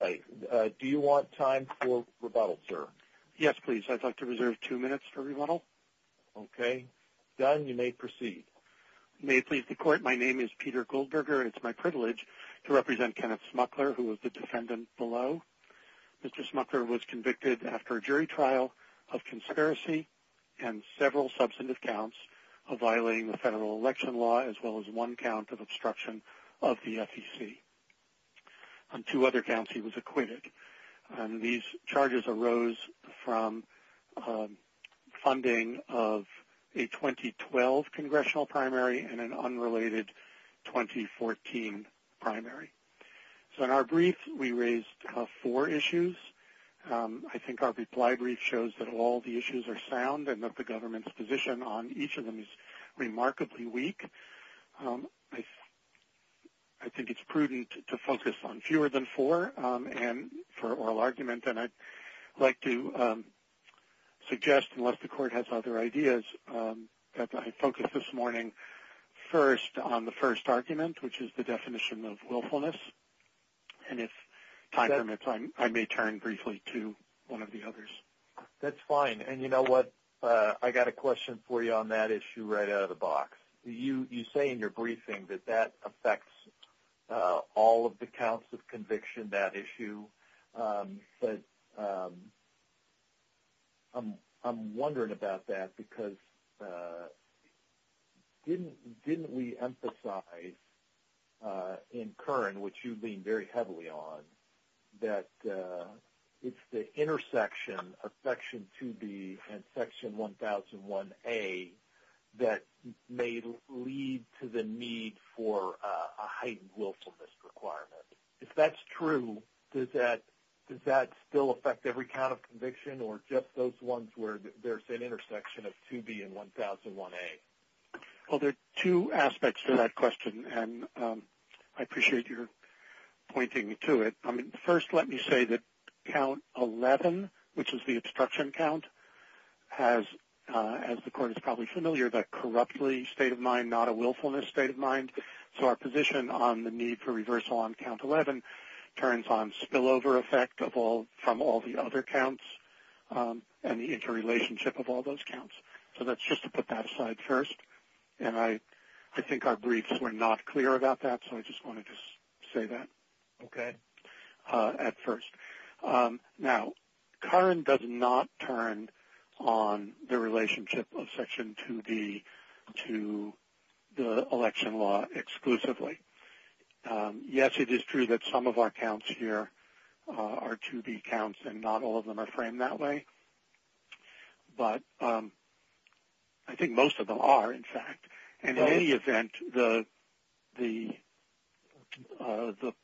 Peter Goldberger My name is Peter Goldberger and it is my privilege to represent Kenneth Smukler, who is the defendant below. Mr. Smukler was convicted after a jury trial of conspiracy and several substantive counts of violating the federal election law as well as one count of obstruction of the FEC. Two other counts he was acquitted. These charges arose from funding of a 2012 congressional primary and an unrelated 2014 primary. So in our brief, we raised four issues. I think our reply brief shows that all the issues are sound and that the government's position on each of them is remarkably weak. I think it is prudent to focus on fewer than four for oral argument and I would like to suggest, unless the court has other ideas, that I focus this morning first on the first argument, which is the definition of willfulness, and if time permits, I may turn briefly to one of the others. That's fine. And you know what, I've got a question for you on that issue right out of the box. You say in your briefing that that affects all of the counts of conviction, that issue, but I'm wondering about that because didn't we emphasize in Kern, which you lean very heavily on, section 2B and section 1001A that may lead to the need for a heightened willfulness requirement. If that's true, does that still affect every count of conviction or just those ones where there's an intersection of 2B and 1001A? Well, there are two aspects to that question and I appreciate your pointing to it. First, let me say that count 11, which is the obstruction count, as the court is probably familiar, that corruptly state of mind, not a willfulness state of mind, so our position on the need for reversal on count 11 turns on spillover effect from all the other counts and the interrelationship of all those counts. So that's just to put that aside first and I think our briefs were not clear about that, so I just wanted to say that at first. Now, Kern does not turn on the relationship of section 2B to the election law exclusively. Yes, it is true that some of our counts here are 2B counts and not all of them are framed in that way, but I think most of them are, in fact, and in any event, the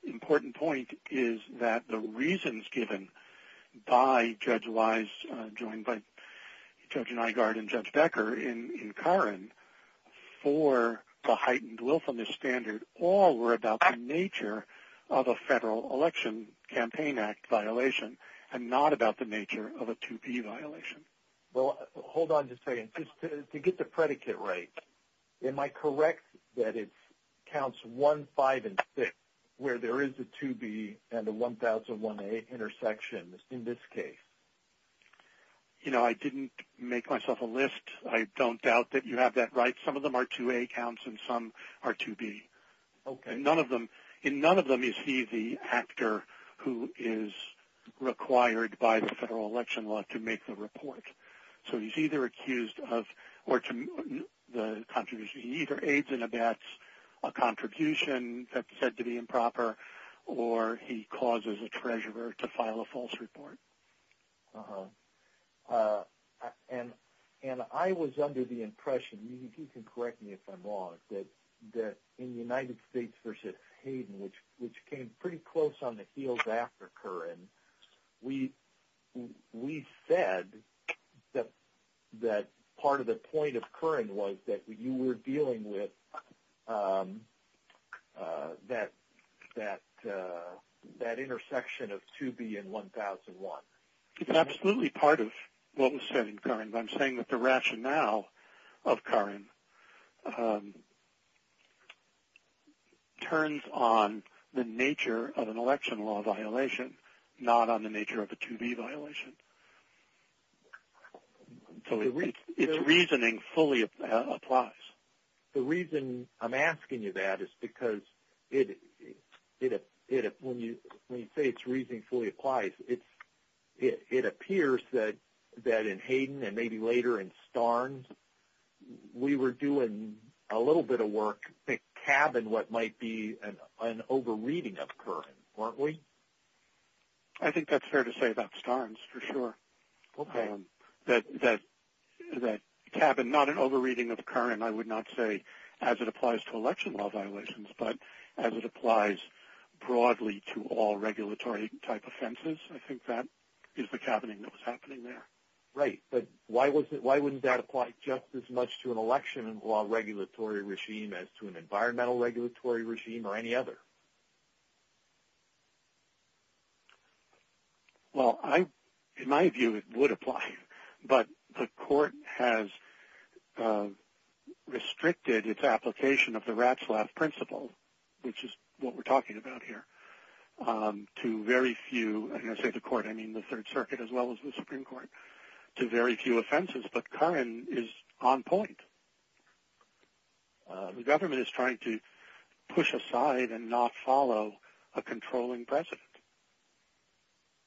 important point is that the reasons given by Judge Wise, joined by Judge Nygard and Judge Becker in Kern for the heightened willfulness standard all were about the nature of a federal election campaign act violation and not about the nature of a 2B violation. Well, hold on just a second. To get the predicate right, am I correct that it counts 1, 5, and 6 where there is a 2B and a 1,001A intersection in this case? You know, I didn't make myself a list. I don't doubt that you have that right. Some of them are 2A counts and some are 2B. In none of them is he the actor who is required by the federal election law to make the report. So, he's either accused of, or the contribution, he either aids and abets a contribution that's said to be improper or he causes a treasurer to file a false report. Uh-huh. And I was under the impression, you can correct me if I'm wrong, that in the United States v. Hayden, which came pretty close on the heels after Kern, we said that part of the It's absolutely part of what was said in Kern, but I'm saying that the rationale of Kern turns on the nature of an election law violation, not on the nature of a 2B violation. So, it's reasoning fully applies. The reason I'm asking you that is because when you say it's reasoning fully applies, it appears that in Hayden and maybe later in Starnes, we were doing a little bit of work to cabin what might be an over-reading of Kern, weren't we? I think that's fair to say about Starnes, for sure. Okay. That cabin, not an over-reading of Kern, I would not say as it applies to election law offenses. I think that is the cabining that was happening there. Right. But why wouldn't that apply just as much to an election law regulatory regime as to an environmental regulatory regime or any other? Well, in my view, it would apply, but the court has restricted its application of the court, I mean the Third Circuit as well as the Supreme Court, to very few offenses. But Kern is on point. The government is trying to push aside and not follow a controlling precedent.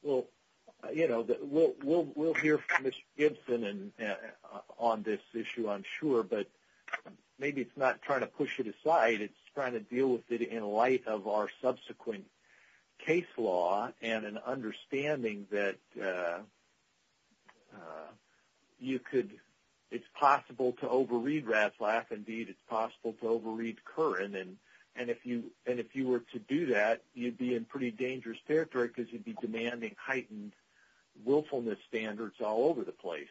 Well, we'll hear from Mr. Gibson on this issue, I'm sure. But maybe it's not trying to push it aside. It's trying to deal with it in light of our subsequent case law and an understanding that it's possible to over-read Ratzlaff. Indeed, it's possible to over-read Kern. And if you were to do that, you'd be in pretty dangerous territory because you'd be demanding heightened willfulness standards all over the place.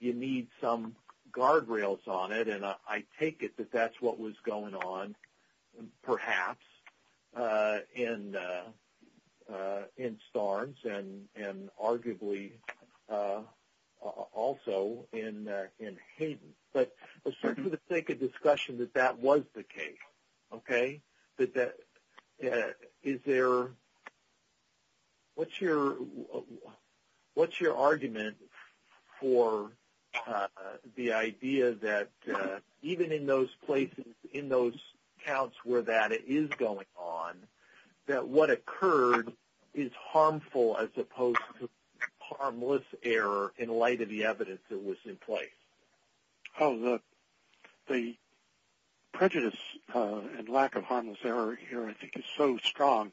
You need some guardrails on it, and I take it that that's what was going on, perhaps, in Starnes and arguably also in Hayden. But let's take a discussion that that was the case. But what's your argument for the idea that even in those places, in those counts where that is going on, that what occurred is harmful as opposed to harmless error in light of the evidence that was in place? Oh, the prejudice and lack of harmless error here, I think, is so strong.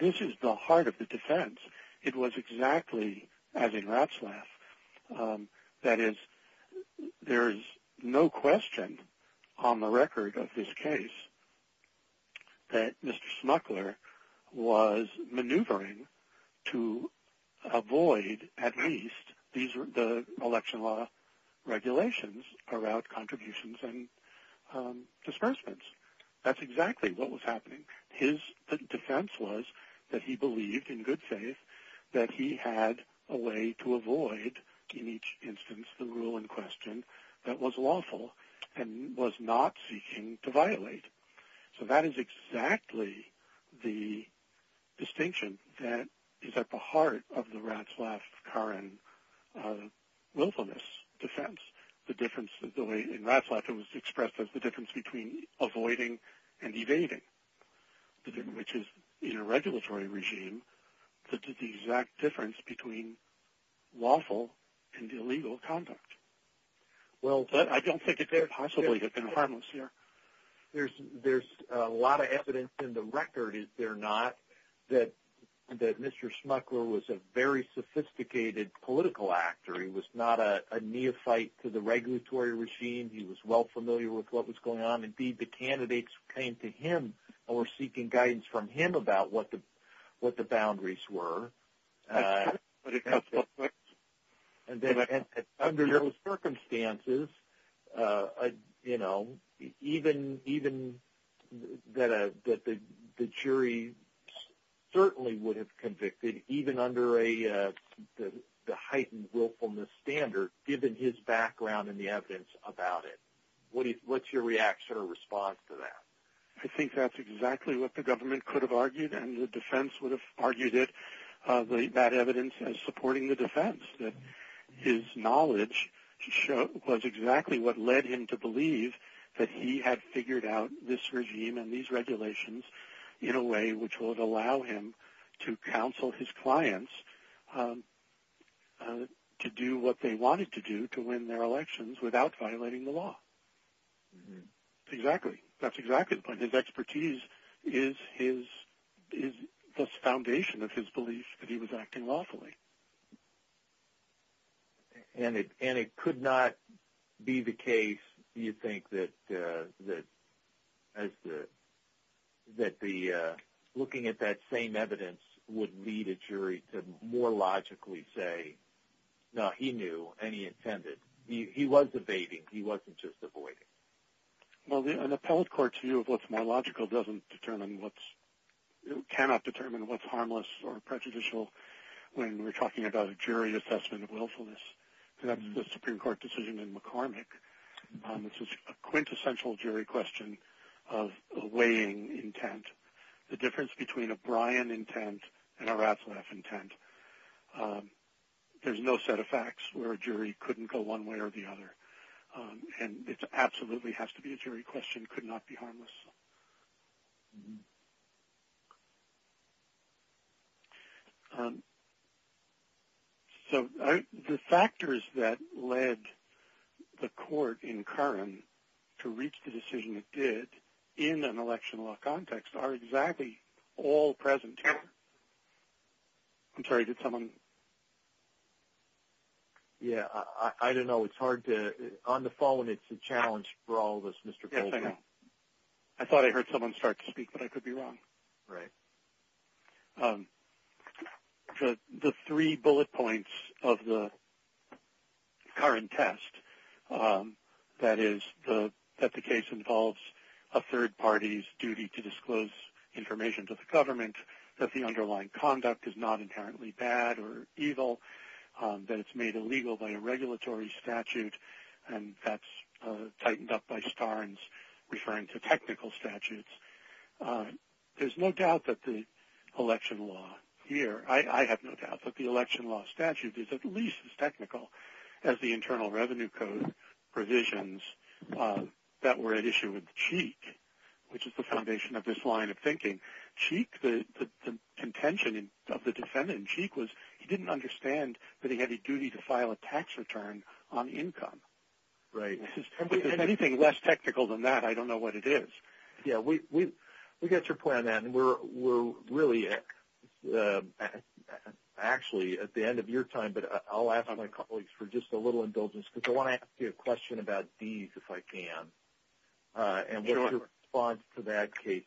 This is the heart of the defense. It was exactly as in Ratzlaff. That is, there is no question on the record of this case that Mr. Smuckler was maneuvering to avoid, at least, the election law regulations about contributions and disbursements. That's exactly what was happening. His defense was that he believed in good faith that he had a way to avoid, in each instance, the rule in question that was lawful and was not seeking to violate. So that is exactly the distinction that is at the heart of the Ratzlaff-Carran willfulness defense. In Ratzlaff, it was expressed as the difference between avoiding and evading, which is, in a regulatory regime, the exact difference between lawful and illegal conduct. But I don't think it could possibly have been harmless here. There's a lot of evidence in the record, is there not, that Mr. Smuckler was a very sophisticated political actor. He was not a neophyte to the regulatory regime. He was well familiar with what was going on. Indeed, the candidates came to him and were seeking guidance from him about what the boundaries were. But under those circumstances, even that the jury certainly would have convicted, even under the heightened willfulness standard, given his background and the evidence about it, what's your reaction or response to that? I think that's exactly what the government could have argued and the defense would have argued it. That evidence as supporting the defense, that his knowledge was exactly what led him to believe that he had figured out this regime and these regulations in a way which would allow him to counsel his clients to do what they wanted to do to win their elections without violating the law. Exactly. That's exactly the point. His expertise is the foundation of his belief that he was acting lawfully. And it could not be the case, do you think, that looking at that same evidence would lead a jury to more logically say, no, he knew and he intended. He was evading. He wasn't just avoiding. Well, an appellate court's view of what's more logical cannot determine what's harmless or prejudicial when we're talking about a jury assessment of willfulness. That's the Supreme Court decision in McCormick. This is a quintessential jury question of weighing intent, the difference between a Bryan intent and a Ratzlaff intent. There's no set of facts where a jury couldn't go one way or the other. And it absolutely has to be a jury question, could not be harmless. So the factors that led the court in Curran to reach the decision it did in an election law context are exactly all present here. I'm sorry, did someone? Yeah, I don't know. On the phone, it's a challenge for all of us. Yes, I know. I thought I heard someone start to speak, but I could be wrong. Right. The three bullet points of the Curran test, that is that the case involves a third party's duty to disclose information to the government, that the underlying conduct is not inherently bad or evil, that it's made illegal by a regulatory statute, and that's tightened up by Starnes referring to technical statutes. There's no doubt that the election law here, I have no doubt that the election law statute is at least as technical as the Internal Revenue Code provisions that were at issue with Cheek, the contention of the defendant in Cheek was he didn't understand that he had a duty to file a tax return on income. Right. Anything less technical than that, I don't know what it is. Yeah, we got your point on that, and we're really actually at the end of your time, but I'll ask my colleagues for just a little indulgence, because I want to ask you a question about these, if I can, and what's your response to that case?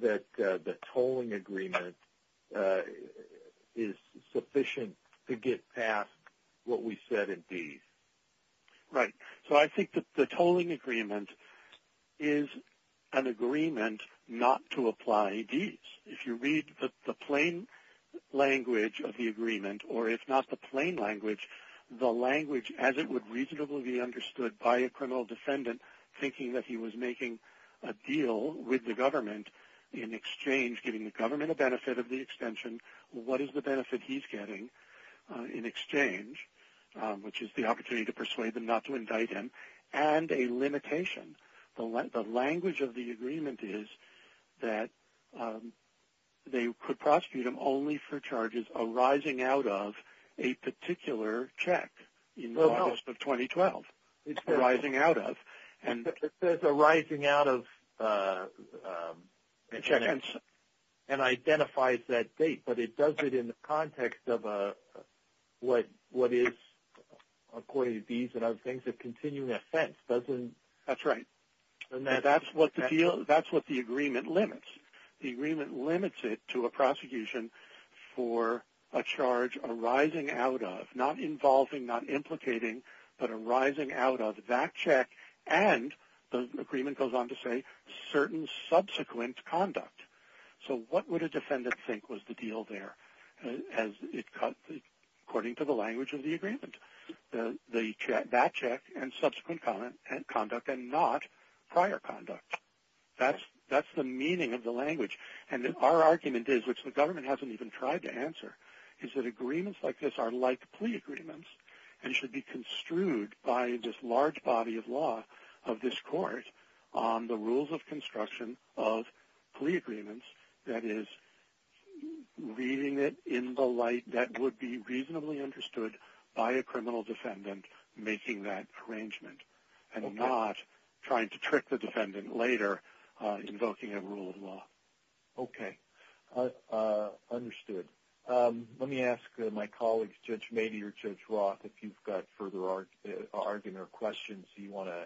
That the tolling agreement is sufficient to get past what we said in D's? Right. So I think that the tolling agreement is an agreement not to apply D's. If you read the plain language of the agreement, or if not the plain language, the language as it would reasonably be understood by a criminal defendant thinking that he was making a deal with the government in exchange, giving the government a benefit of the extension, what is the benefit he's getting in exchange, which is the opportunity to persuade them not to indict him, and a limitation. The language of the agreement is that they could prosecute him only for charges arising out of a particular check in August of 2012. It's arising out of. It says arising out of and identifies that date, but it does it in the context of what is, according to D's and other things, a continuing offense, doesn't. That's right. That's what the deal, that's what the agreement limits. The agreement limits it to a prosecution for a charge arising out of, not involving, not and, the agreement goes on to say, certain subsequent conduct. What would a defendant think was the deal there, according to the language of the agreement? That check and subsequent conduct and not prior conduct. That's the meaning of the language, and our argument is, which the government hasn't even tried to answer, is that agreements like this are like plea agreements and should be construed by this large body of law of this court on the rules of construction of plea agreements, that is, reading it in the light that would be reasonably understood by a criminal defendant making that arrangement, and not trying to trick the defendant later, invoking a rule of law. Okay, understood. Let me ask my colleagues, Judge Mady or Judge Roth, if you've got further argument or questions you want to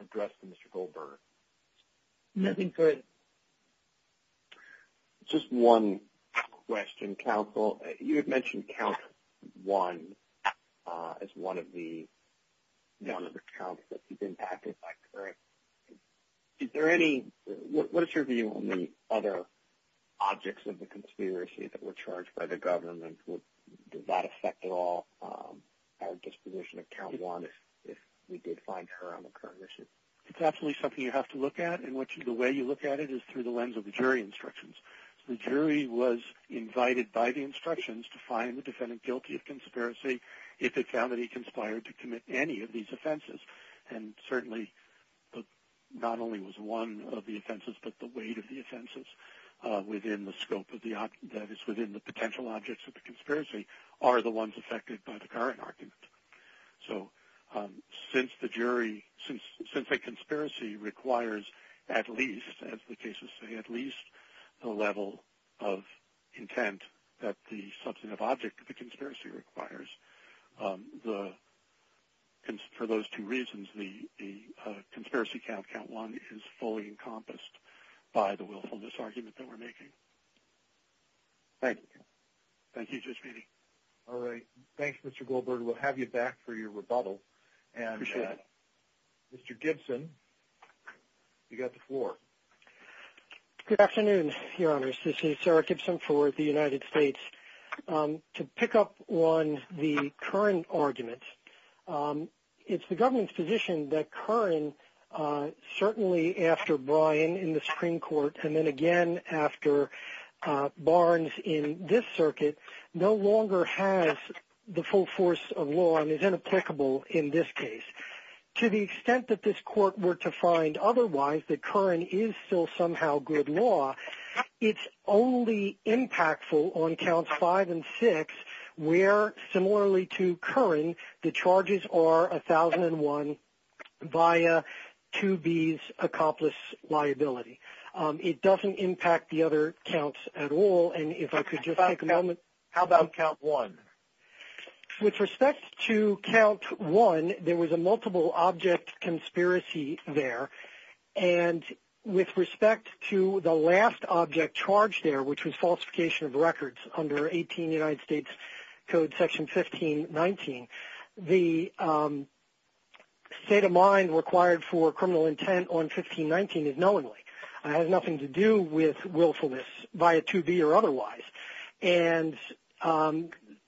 address to Mr. Goldberger. Nothing, go ahead. Just one question, counsel. You had mentioned count one as one of the non-counts that you've impacted by current. Is there any, what is your view on the other objects of the conspiracy that were charged by the government? Did that affect at all our disposition of count one if we did find her on the current issue? It's absolutely something you have to look at, and the way you look at it is through the lens of the jury instructions. The jury was invited by the instructions to find the defendant guilty of conspiracy if they found that he conspired to commit any of these offenses. And certainly, not only was one of the offenses, but the weight of the offenses within the scope of the, that is, within the potential objects of the conspiracy are the ones affected by the current argument. So since the jury, since a conspiracy requires at least, as the cases say, at least the level of intent that the substantive object of the conspiracy requires, for those two reasons, the conspiracy count, count one, is fully encompassed by the willfulness argument that we're making. Thank you. Thank you, Judge Feeney. All right. Thanks, Mr. Goldberg. We'll have you back for your rebuttal, and Mr. Gibson, you've got the floor. Good afternoon, Your Honors. This is Sarah Gibson for the United States. To pick up on the Curran argument, it's the government's position that Curran, certainly after Bryan in the Supreme Court, and then again after Barnes in this circuit, no longer has the full force of law and is inapplicable in this case. To the extent that this court were to find otherwise, that Curran is still somehow good law, it's only impactful on counts five and six where, similarly to Curran, the charges are 1001 via 2B's accomplice liability. It doesn't impact the other counts at all. And if I could just take a moment. How about count one? With respect to count one, there was a multiple object conspiracy there. And with respect to the last object charged there, which was falsification of records under 18 United States Code section 1519, the state of mind required for criminal intent on 1519 is knowingly. It has nothing to do with willfulness via 2B or otherwise. And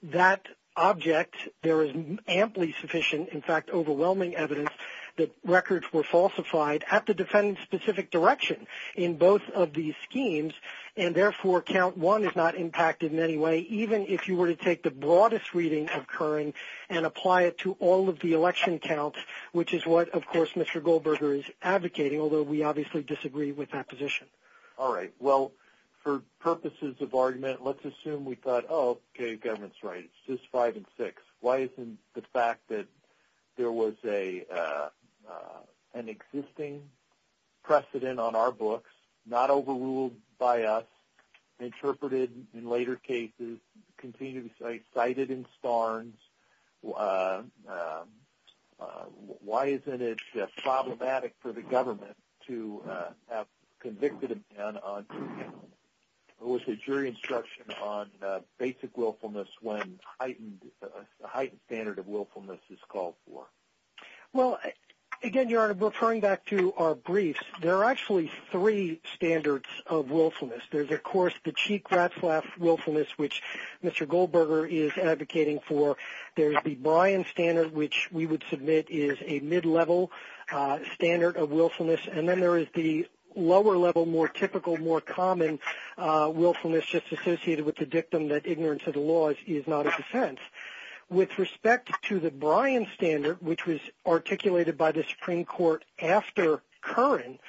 that object, there is amply sufficient, in fact, overwhelming evidence that records were falsified at the defendant's specific direction in both of these schemes. And therefore, count one is not impacted in any way, even if you were to take the broadest reading of Curran and apply it to all of the election counts, which is what, of course, Mr. Goldberger is advocating, although we obviously disagree with that position. All right. Well, for purposes of argument, let's assume we thought, oh, okay, government's right. It's just five and six. Why isn't the fact that there was an existing precedent on our books, not overruled by us, interpreted in later cases, continued to be cited in Starnes, why isn't it problematic for the government to have convicted a man who was a jury instruction on basic willfulness when a heightened standard of willfulness is called for? Well, again, Your Honor, referring back to our briefs, there are actually three standards of willfulness. There's, of course, the Cheek-Ratzlaff willfulness, which Mr. Goldberger is advocating for. There's the Bryan standard, which we would submit is a mid-level standard of willfulness. And then there is the lower-level, more typical, more common willfulness just associated with the dictum that ignorance of the laws is not a defense. With respect to the Bryan standard, which was articulated by the Supreme Court after Curran,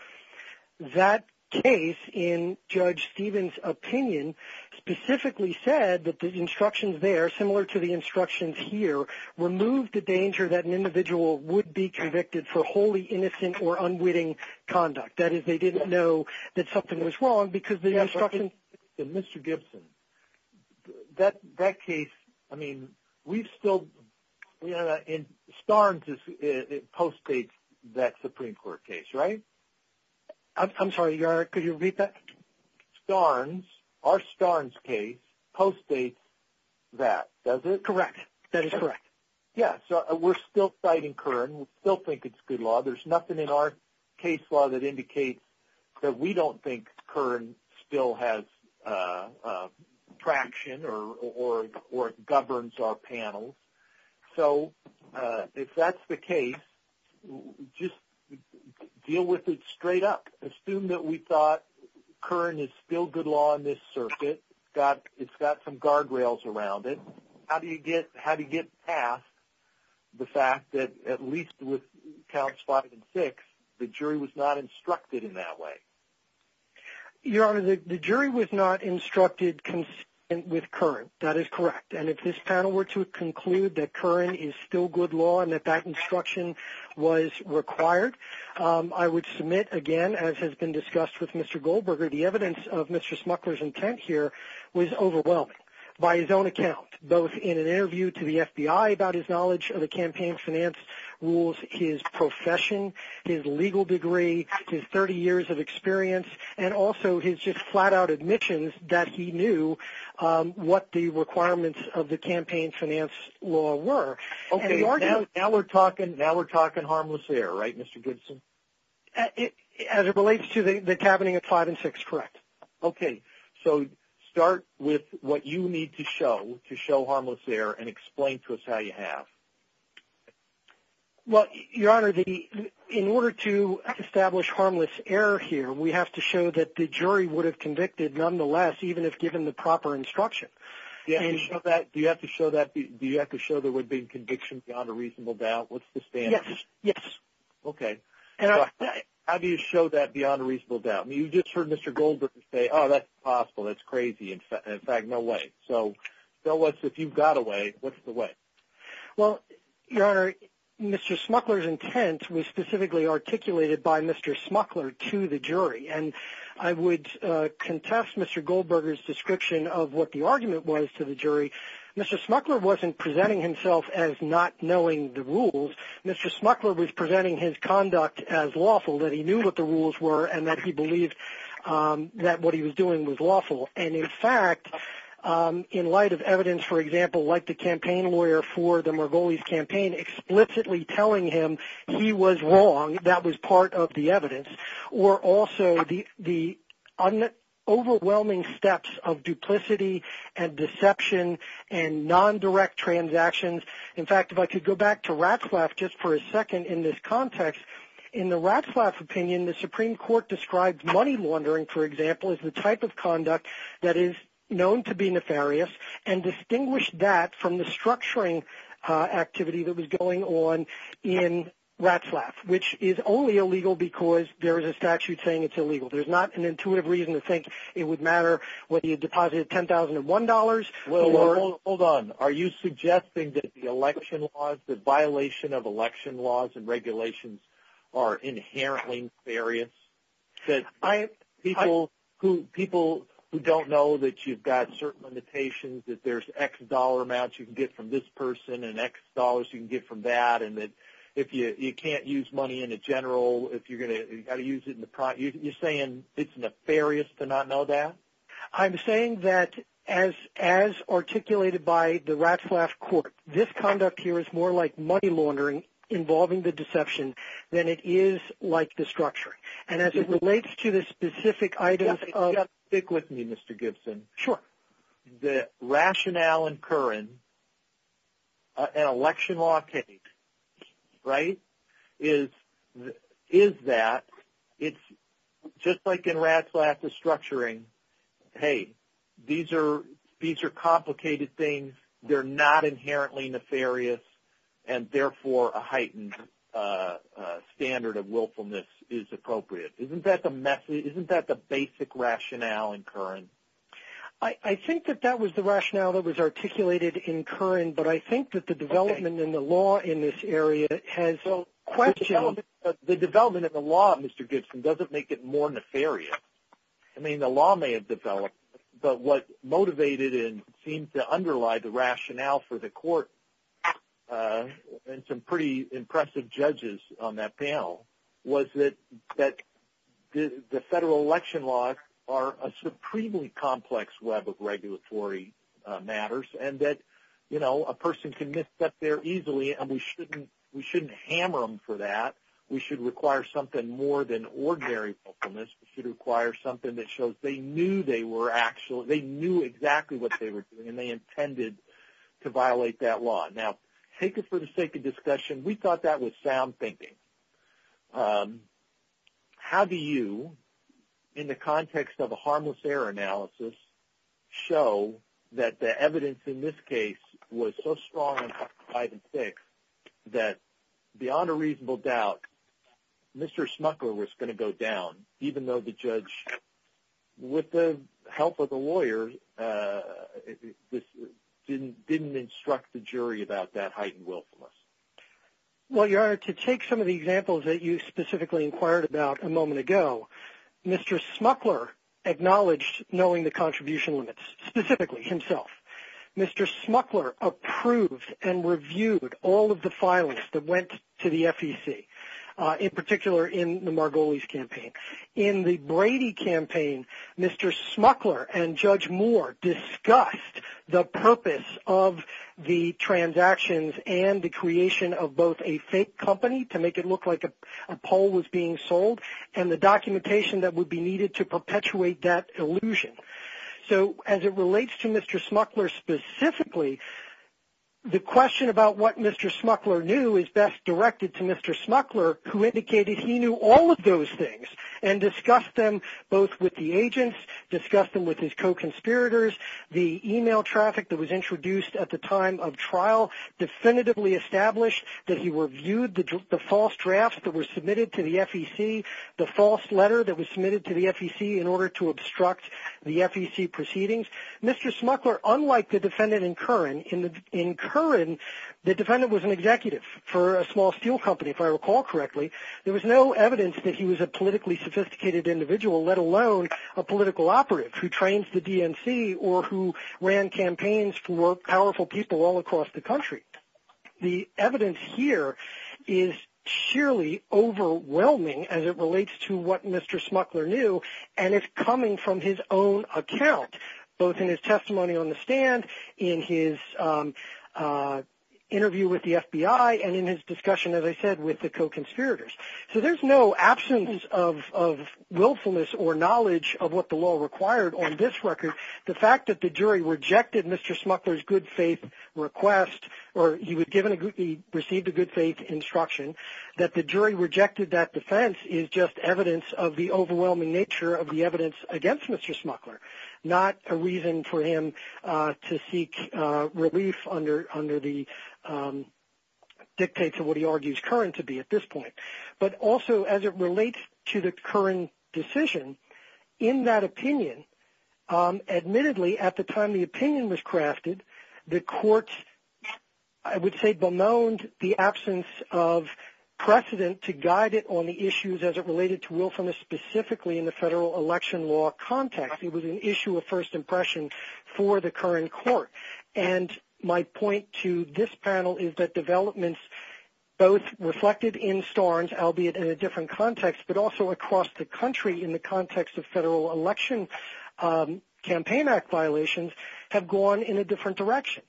that case, in Judge Stevens' opinion, specifically said that the instructions there, similar to the instructions here, removed the danger that an individual would be convicted for wholly innocent or unwitting conduct. That is, they didn't know that something was wrong because the instructions... Mr. Gibson, that case, I mean, we've still... Starnes postdates that Supreme Court case, right? I'm sorry, Your Honor, could you repeat that? Starnes, our Starnes case, postdates that, does it? Correct. That is correct. Yeah, so we're still citing Curran. We still think it's good law. There's nothing in our case law that indicates that we don't think Curran still has traction or governs our panels. So if that's the case, just deal with it straight up. Assume that we thought Curran is still good law in this circuit. It's got some guardrails around it. How do you get past the fact that, at least with counts five and six, the jury was not instructed in that way? Your Honor, the jury was not instructed with Curran. That is correct. And if this panel were to conclude that Curran is still good law and that that instruction was required, I would submit, again, as has been discussed with Mr. Goldberger, the evidence of Mr. Smuckler's intent here was overwhelming by his own account, both in an interview to the FBI about his knowledge of the campaign finance rules, his profession, his legal degree, his 30 years of experience, and also his just flat-out admissions that he knew what the requirements of the campaign finance law were. Okay, now we're talking harmless error, right, Mr. Gibson? As it relates to the tabening of five and six, correct. Okay. So start with what you need to show to show harmless error and explain to us how you have. Well, Your Honor, in order to establish harmless error here, we have to show that the jury would have convicted nonetheless, even if given the proper instruction. Do you have to show that there would be a conviction beyond a reasonable doubt? What's the standard? Yes. Yes. Okay. How do you show that beyond a reasonable doubt? You just heard Mr. Goldberger say, oh, that's impossible, that's crazy, in fact, no way. So tell us if you've got a way, what's the way? Well, Your Honor, Mr. Smuckler's intent was specifically articulated by Mr. Smuckler to the jury, and I would contest Mr. Goldberger's description of what the argument was to the jury. Mr. Smuckler wasn't presenting himself as not knowing the rules. Mr. Smuckler was presenting his conduct as lawful, that he knew what the rules were, and that he believed that what he was doing was lawful. And in fact, in light of evidence, for example, like the campaign lawyer for the Margolis campaign explicitly telling him he was wrong, that was part of the evidence, or also the overwhelming steps of duplicity and deception and non-direct transactions. In fact, if I could go back to Ratzlaff just for a second in this context, in the Ratzlaff opinion, the Supreme Court described money laundering, for example, as the type of conduct that is known to be nefarious, and distinguished that from the structuring activity that was going on in Ratzlaff, which is only illegal because there is a statute saying it's illegal. There's not an intuitive reason to think it would matter whether you deposited $10,001 dollars. Well, hold on. Are you suggesting that the election laws, the violation of election laws and regulations, are inherently nefarious? That people who don't know that you've got certain limitations, that there's X dollar amounts you can get from this person, and X dollars you can get from that, and that if you can't use money in a general, you've got to use it in the private, you're saying it's nefarious to not know that? I'm saying that as articulated by the Ratzlaff court, this conduct here is more like money laundering. And as it relates to the specific items of... Yeah, stick with me, Mr. Gibson. Sure. The rationale and current an election law takes, right, is that it's just like in Ratzlaff, the structuring, hey, these are complicated things, they're not inherently nefarious, and therefore a heightened standard of willfulness is appropriate. Isn't that the basic rationale in current? I think that that was the rationale that was articulated in current, but I think that the development in the law in this area has questioned... The development of the law, Mr. Gibson, doesn't make it more nefarious. I mean, the law may have developed, but what motivated and seemed to underlie the rationale for the court and some pretty impressive judges on that panel was that the federal election laws are a supremely complex web of regulatory matters and that a person can get stuck there easily and we shouldn't hammer them for that. We should require something more than ordinary willfulness. We should require something that shows they knew they were actually... To violate that law. Now, take it for the sake of discussion, we thought that was sound thinking. How do you, in the context of a harmless error analysis, show that the evidence in this case was so strong on five and six that beyond a reasonable doubt, Mr. Schmuckler was going to go down, even though the judge, with the help of a lawyer, didn't instruct the jury about that heightened willfulness? Well, Your Honor, to take some of the examples that you specifically inquired about a moment ago, Mr. Schmuckler acknowledged knowing the contribution limits, specifically himself. Mr. Schmuckler approved and reviewed all of the filings that went to the FEC, in particular in the Margolis campaign. In the Brady campaign, Mr. Schmuckler and Judge Moore discussed the purpose of the transactions and the creation of both a fake company, to make it look like a poll was being sold, and the documentation that would be needed to perpetuate that illusion. So, as it relates to Mr. Schmuckler specifically, the question about what Mr. Schmuckler knew is best directed to Mr. Schmuckler, who indicated he knew all of those things, and discussed them both with the agents, discussed them with his co-conspirators. The email traffic that was introduced at the time of trial definitively established that he reviewed the false drafts that were submitted to the FEC, the false letter that was submitted to the FEC in order to obstruct the FEC proceedings. Mr. Schmuckler, unlike the defendant in Curran, in Curran, the defendant was an executive for a small steel company, if I recall correctly. There was no evidence that he was a politically sophisticated individual, let alone a political operative who trains the DNC or who ran campaigns for powerful people all across the country. The evidence here is sheerly overwhelming as it relates to what Mr. Schmuckler knew, and it's coming from his own account, both in his testimony on the stand, in his interview with the FBI, and in his discussion, as I said, with the co-conspirators. So, there's no absence of willfulness or knowledge of what the law required on this record. The fact that the jury rejected Mr. Schmuckler's good faith request, or he received a good faith instruction, that the jury rejected that defense is just evidence of the overwhelming nature of the evidence against Mr. Schmuckler, not a reason for him to seek relief under the dictates of what he argues Curran to be at this point. But also, as it relates to the Curran decision, in that opinion, admittedly, at the time the precedent to guide it on the issues as it related to willfulness, specifically in the federal election law context, it was an issue of first impression for the Curran court. And my point to this panel is that developments, both reflected in Starnes, albeit in a different context, but also across the country in the context of federal election Campaign Act violations, have gone in a different direction.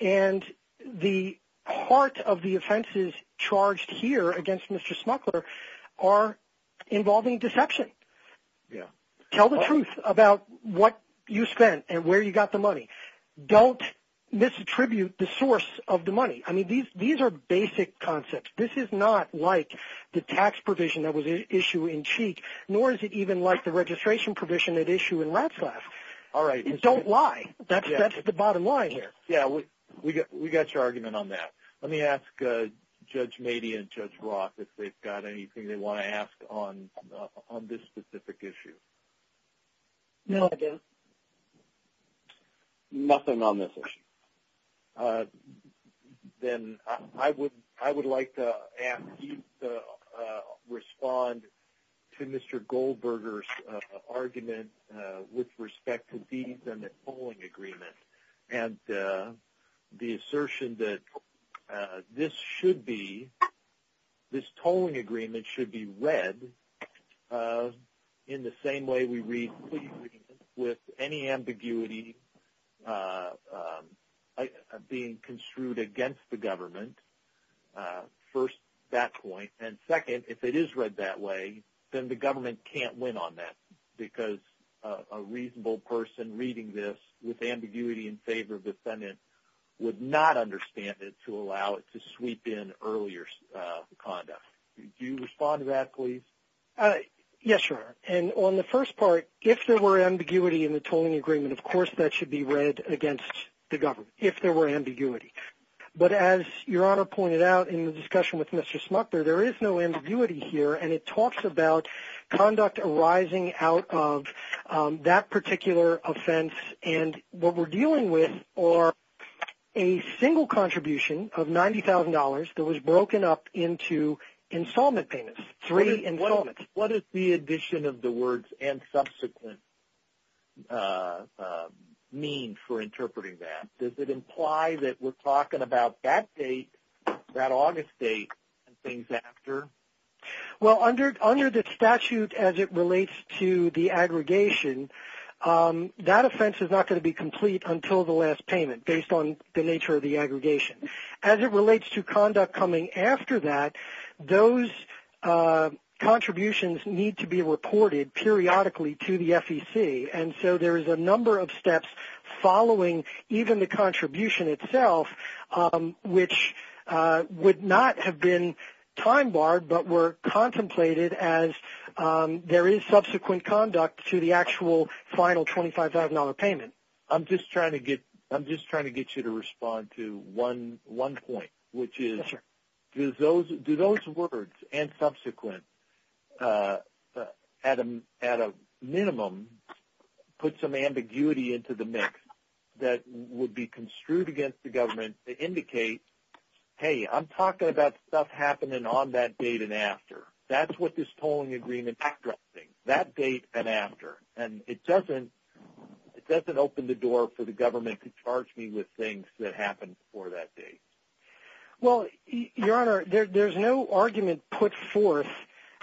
And the heart of the offenses charged here against Mr. Schmuckler are involving deception. Tell the truth about what you spent and where you got the money. Don't misattribute the source of the money. I mean, these are basic concepts. This is not like the tax provision that was issued in Cheek, nor is it even like the registration provision at issue in Ratzlaff. All right. Don't lie. That's the bottom line here. Yeah, we got your argument on that. Let me ask Judge Mady and Judge Roth if they've got anything they want to ask on this specific issue. No, I don't. Nothing on this issue. Then I would like to ask you to respond to Mr. Goldberger's argument with respect to the assertion that this should be, this tolling agreement should be read in the same way we read, with any ambiguity being construed against the government. First, that point. And second, if it is read that way, then the government can't win on that. Because a reasonable person reading this with ambiguity in favor of defendant would not understand it to allow it to sweep in earlier conduct. Do you respond to that, please? Yes, Your Honor. And on the first part, if there were ambiguity in the tolling agreement, of course, that should be read against the government, if there were ambiguity. But as Your Honor pointed out in the discussion with Mr. Smucker, there is no ambiguity here. And it talks about conduct arising out of that particular offense. And what we're dealing with are a single contribution of $90,000 that was broken up into installment payments, three installments. What does the addition of the words and subsequent mean for interpreting that? Does it imply that we're talking about that date, that August date, and things after? Well, under the statute as it relates to the aggregation, that offense is not going to be complete until the last payment, based on the nature of the aggregation. As it relates to conduct coming after that, those contributions need to be reported periodically to the FEC. And so there is a number of steps following even the contribution itself, which would not have been time barred, but were contemplated as there is subsequent conduct to the actual final $25,000 payment. I'm just trying to get you to respond to one point, which is, do those words and subsequent at a minimum put some ambiguity into the mix that would be construed against the government to indicate, hey, I'm talking about stuff happening on that date and after. That's what this tolling agreement is addressing. That date and after. And it doesn't open the door for the government to charge me with things that happened before that date. Well, Your Honor, there's no argument put forth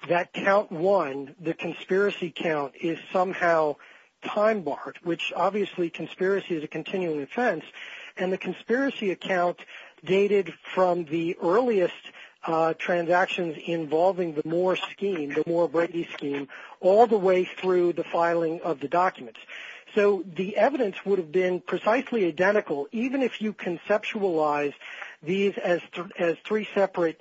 that count one, the conspiracy count, is somehow time barred, which obviously conspiracy is a continuing offense. And the conspiracy account dated from the earliest transactions involving the Moore scheme, the Moore-Brady scheme, all the way through the filing of the documents. So the evidence would have been precisely identical even if you conceptualize these as three separate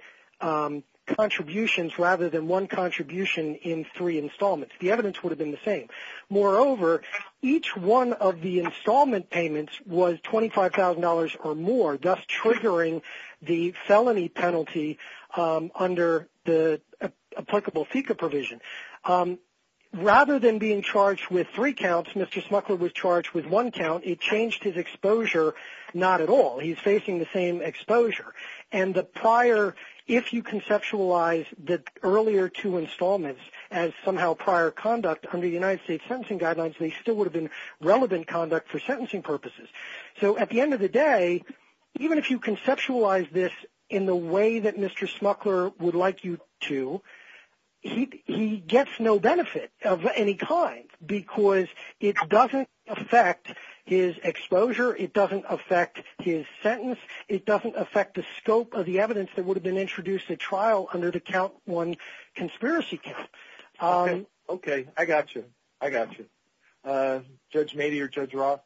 contributions rather than one contribution in three installments. The evidence would have been the same. Moreover, each one of the installment payments was $25,000 or more, thus triggering the felony penalty under the applicable FICA provision. Rather than being charged with three counts, Mr. Smuckler was charged with one count. It changed his exposure not at all. He's facing the same exposure. And the prior, if you conceptualize the earlier two installments as somehow prior conduct under the United States sentencing guidelines, they still would have been relevant conduct for sentencing purposes. So at the end of the day, even if you conceptualize this in the way that Mr. Smuckler would like you to, he gets no benefit of any kind because it doesn't affect his exposure. It doesn't affect his sentence. It doesn't affect the scope of the evidence that would have been introduced at trial under the count one conspiracy count. Okay. I got you. I got you. Judge Mady or Judge Roth?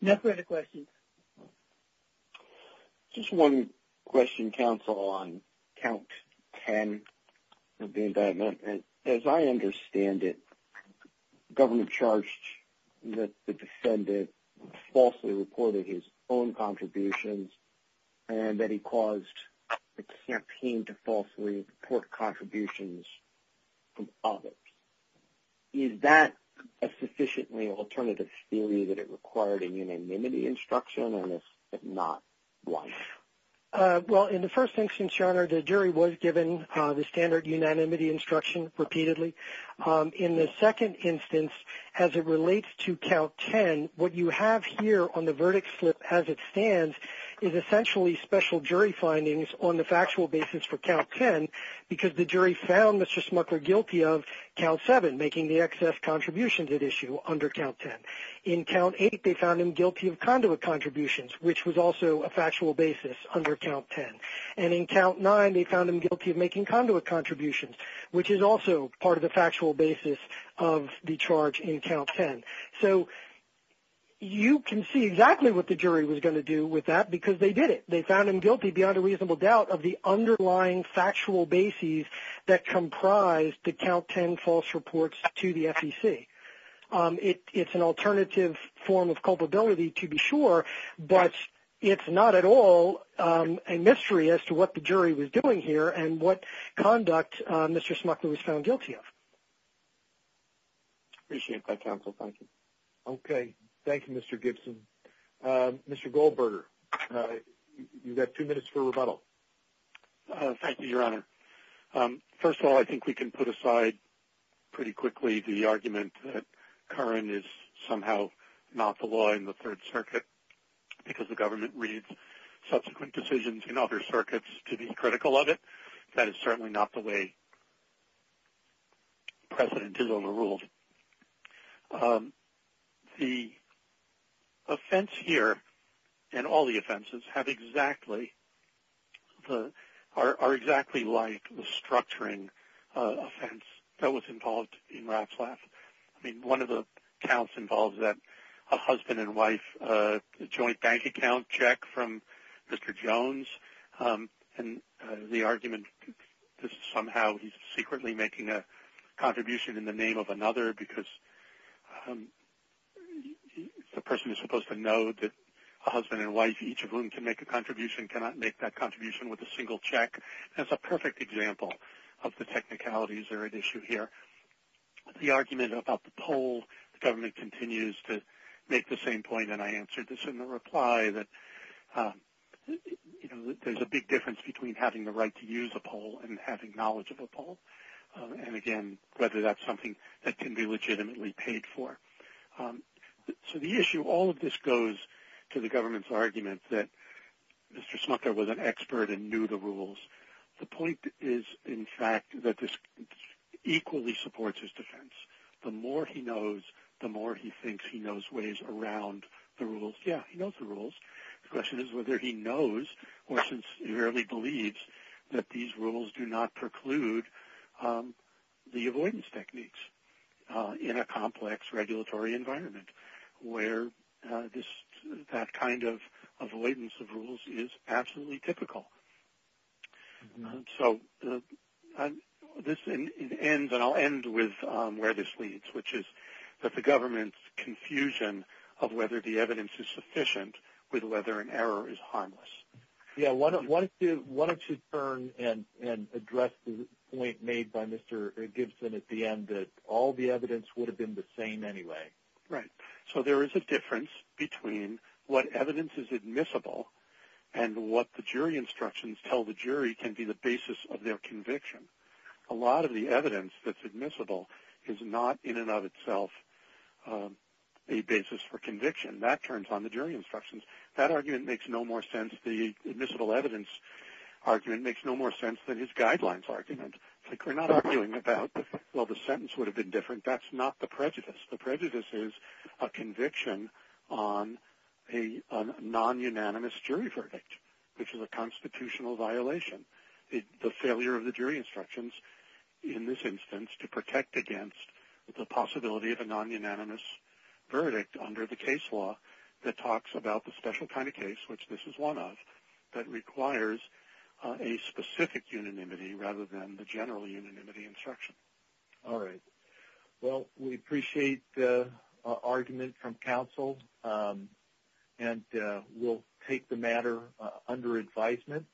No further questions. Just one question, counsel, on count 10 of the indictment. As I understand it, the government charged that the defendant falsely reported his own contributions from others. Is that a sufficiently alternative theory that it required a unanimity instruction, and if not, why? Well, in the first instance, your honor, the jury was given the standard unanimity instruction repeatedly. In the second instance, as it relates to count 10, what you have here on the verdict slip as it stands is essentially special jury findings on the factual basis for count 10 because the jury found Mr. Smuckler guilty of count 7, making the excess contributions at issue under count 10. In count 8, they found him guilty of conduit contributions, which was also a factual basis under count 10. And in count 9, they found him guilty of making conduit contributions, which is also part of the factual basis of the charge in count 10. So you can see exactly what the jury was going to do with that because they did it. They found him guilty beyond a reasonable doubt of the underlying factual basis that comprised the count 10 false reports to the FEC. It's an alternative form of culpability to be sure, but it's not at all a mystery as to what the jury was doing here and what conduct Mr. Smuckler was found guilty of. Appreciate that, counsel. Thank you. Okay. Thank you, Mr. Gibson. Mr. Goldberger, you've got two minutes for rebuttal. Thank you, Your Honor. First of all, I think we can put aside pretty quickly the argument that Curran is somehow not the law in the Third Circuit because the government reads subsequent decisions in other circuits to be critical of it. That is certainly not the way precedent is overruled. But the offense here, and all the offenses, are exactly like the structuring offense that was involved in Ratzlaff. I mean, one of the counts involves a husband and wife joint bank account check from Mr. Jones, and the argument is somehow he's secretly making a contribution in the name of another because the person is supposed to know that a husband and wife, each of whom can make a contribution, cannot make that contribution with a single check. That's a perfect example of the technicalities that are at issue here. The argument about the poll, the government continues to make the same point, and I answered this in the reply, that there's a big difference between having the right to use a poll and having knowledge of a poll, and again, whether that's something that can be legitimately paid for. So the issue, all of this goes to the government's argument that Mr. Smucker was an expert and knew the rules. The point is, in fact, that this equally supports his defense. The more he knows, the more he thinks he knows ways around the rules. Yeah, he knows the rules. The question is whether he knows or sincerely believes that these rules do not preclude the avoidance techniques in a complex regulatory environment where that kind of avoidance of rules is absolutely typical. And so this ends, and I'll end with where this leads, which is that the government's confusion of whether the evidence is sufficient with whether an error is harmless. Yeah, why don't you turn and address the point made by Mr. Gibson at the end that all the evidence would have been the same anyway. Right. So there is a difference between what evidence is admissible and what the jury instructions tell the jury can be the basis of their conviction. A lot of the evidence that's admissible is not in and of itself a basis for conviction. That turns on the jury instructions. That argument makes no more sense. The admissible evidence argument makes no more sense than his guidelines argument. It's like we're not arguing about, well, the sentence would have been different. That's not the prejudice. The prejudice is a conviction on a non-unanimous jury verdict, which is a constitutional violation. The failure of the jury instructions, in this instance, to protect against the possibility of a non-unanimous verdict under the case law that talks about the special kind of case, which this is one of, that requires a specific unanimity rather than the general unanimity instruction. All right. Well, we appreciate the argument from counsel, and we'll take the matter under advisement.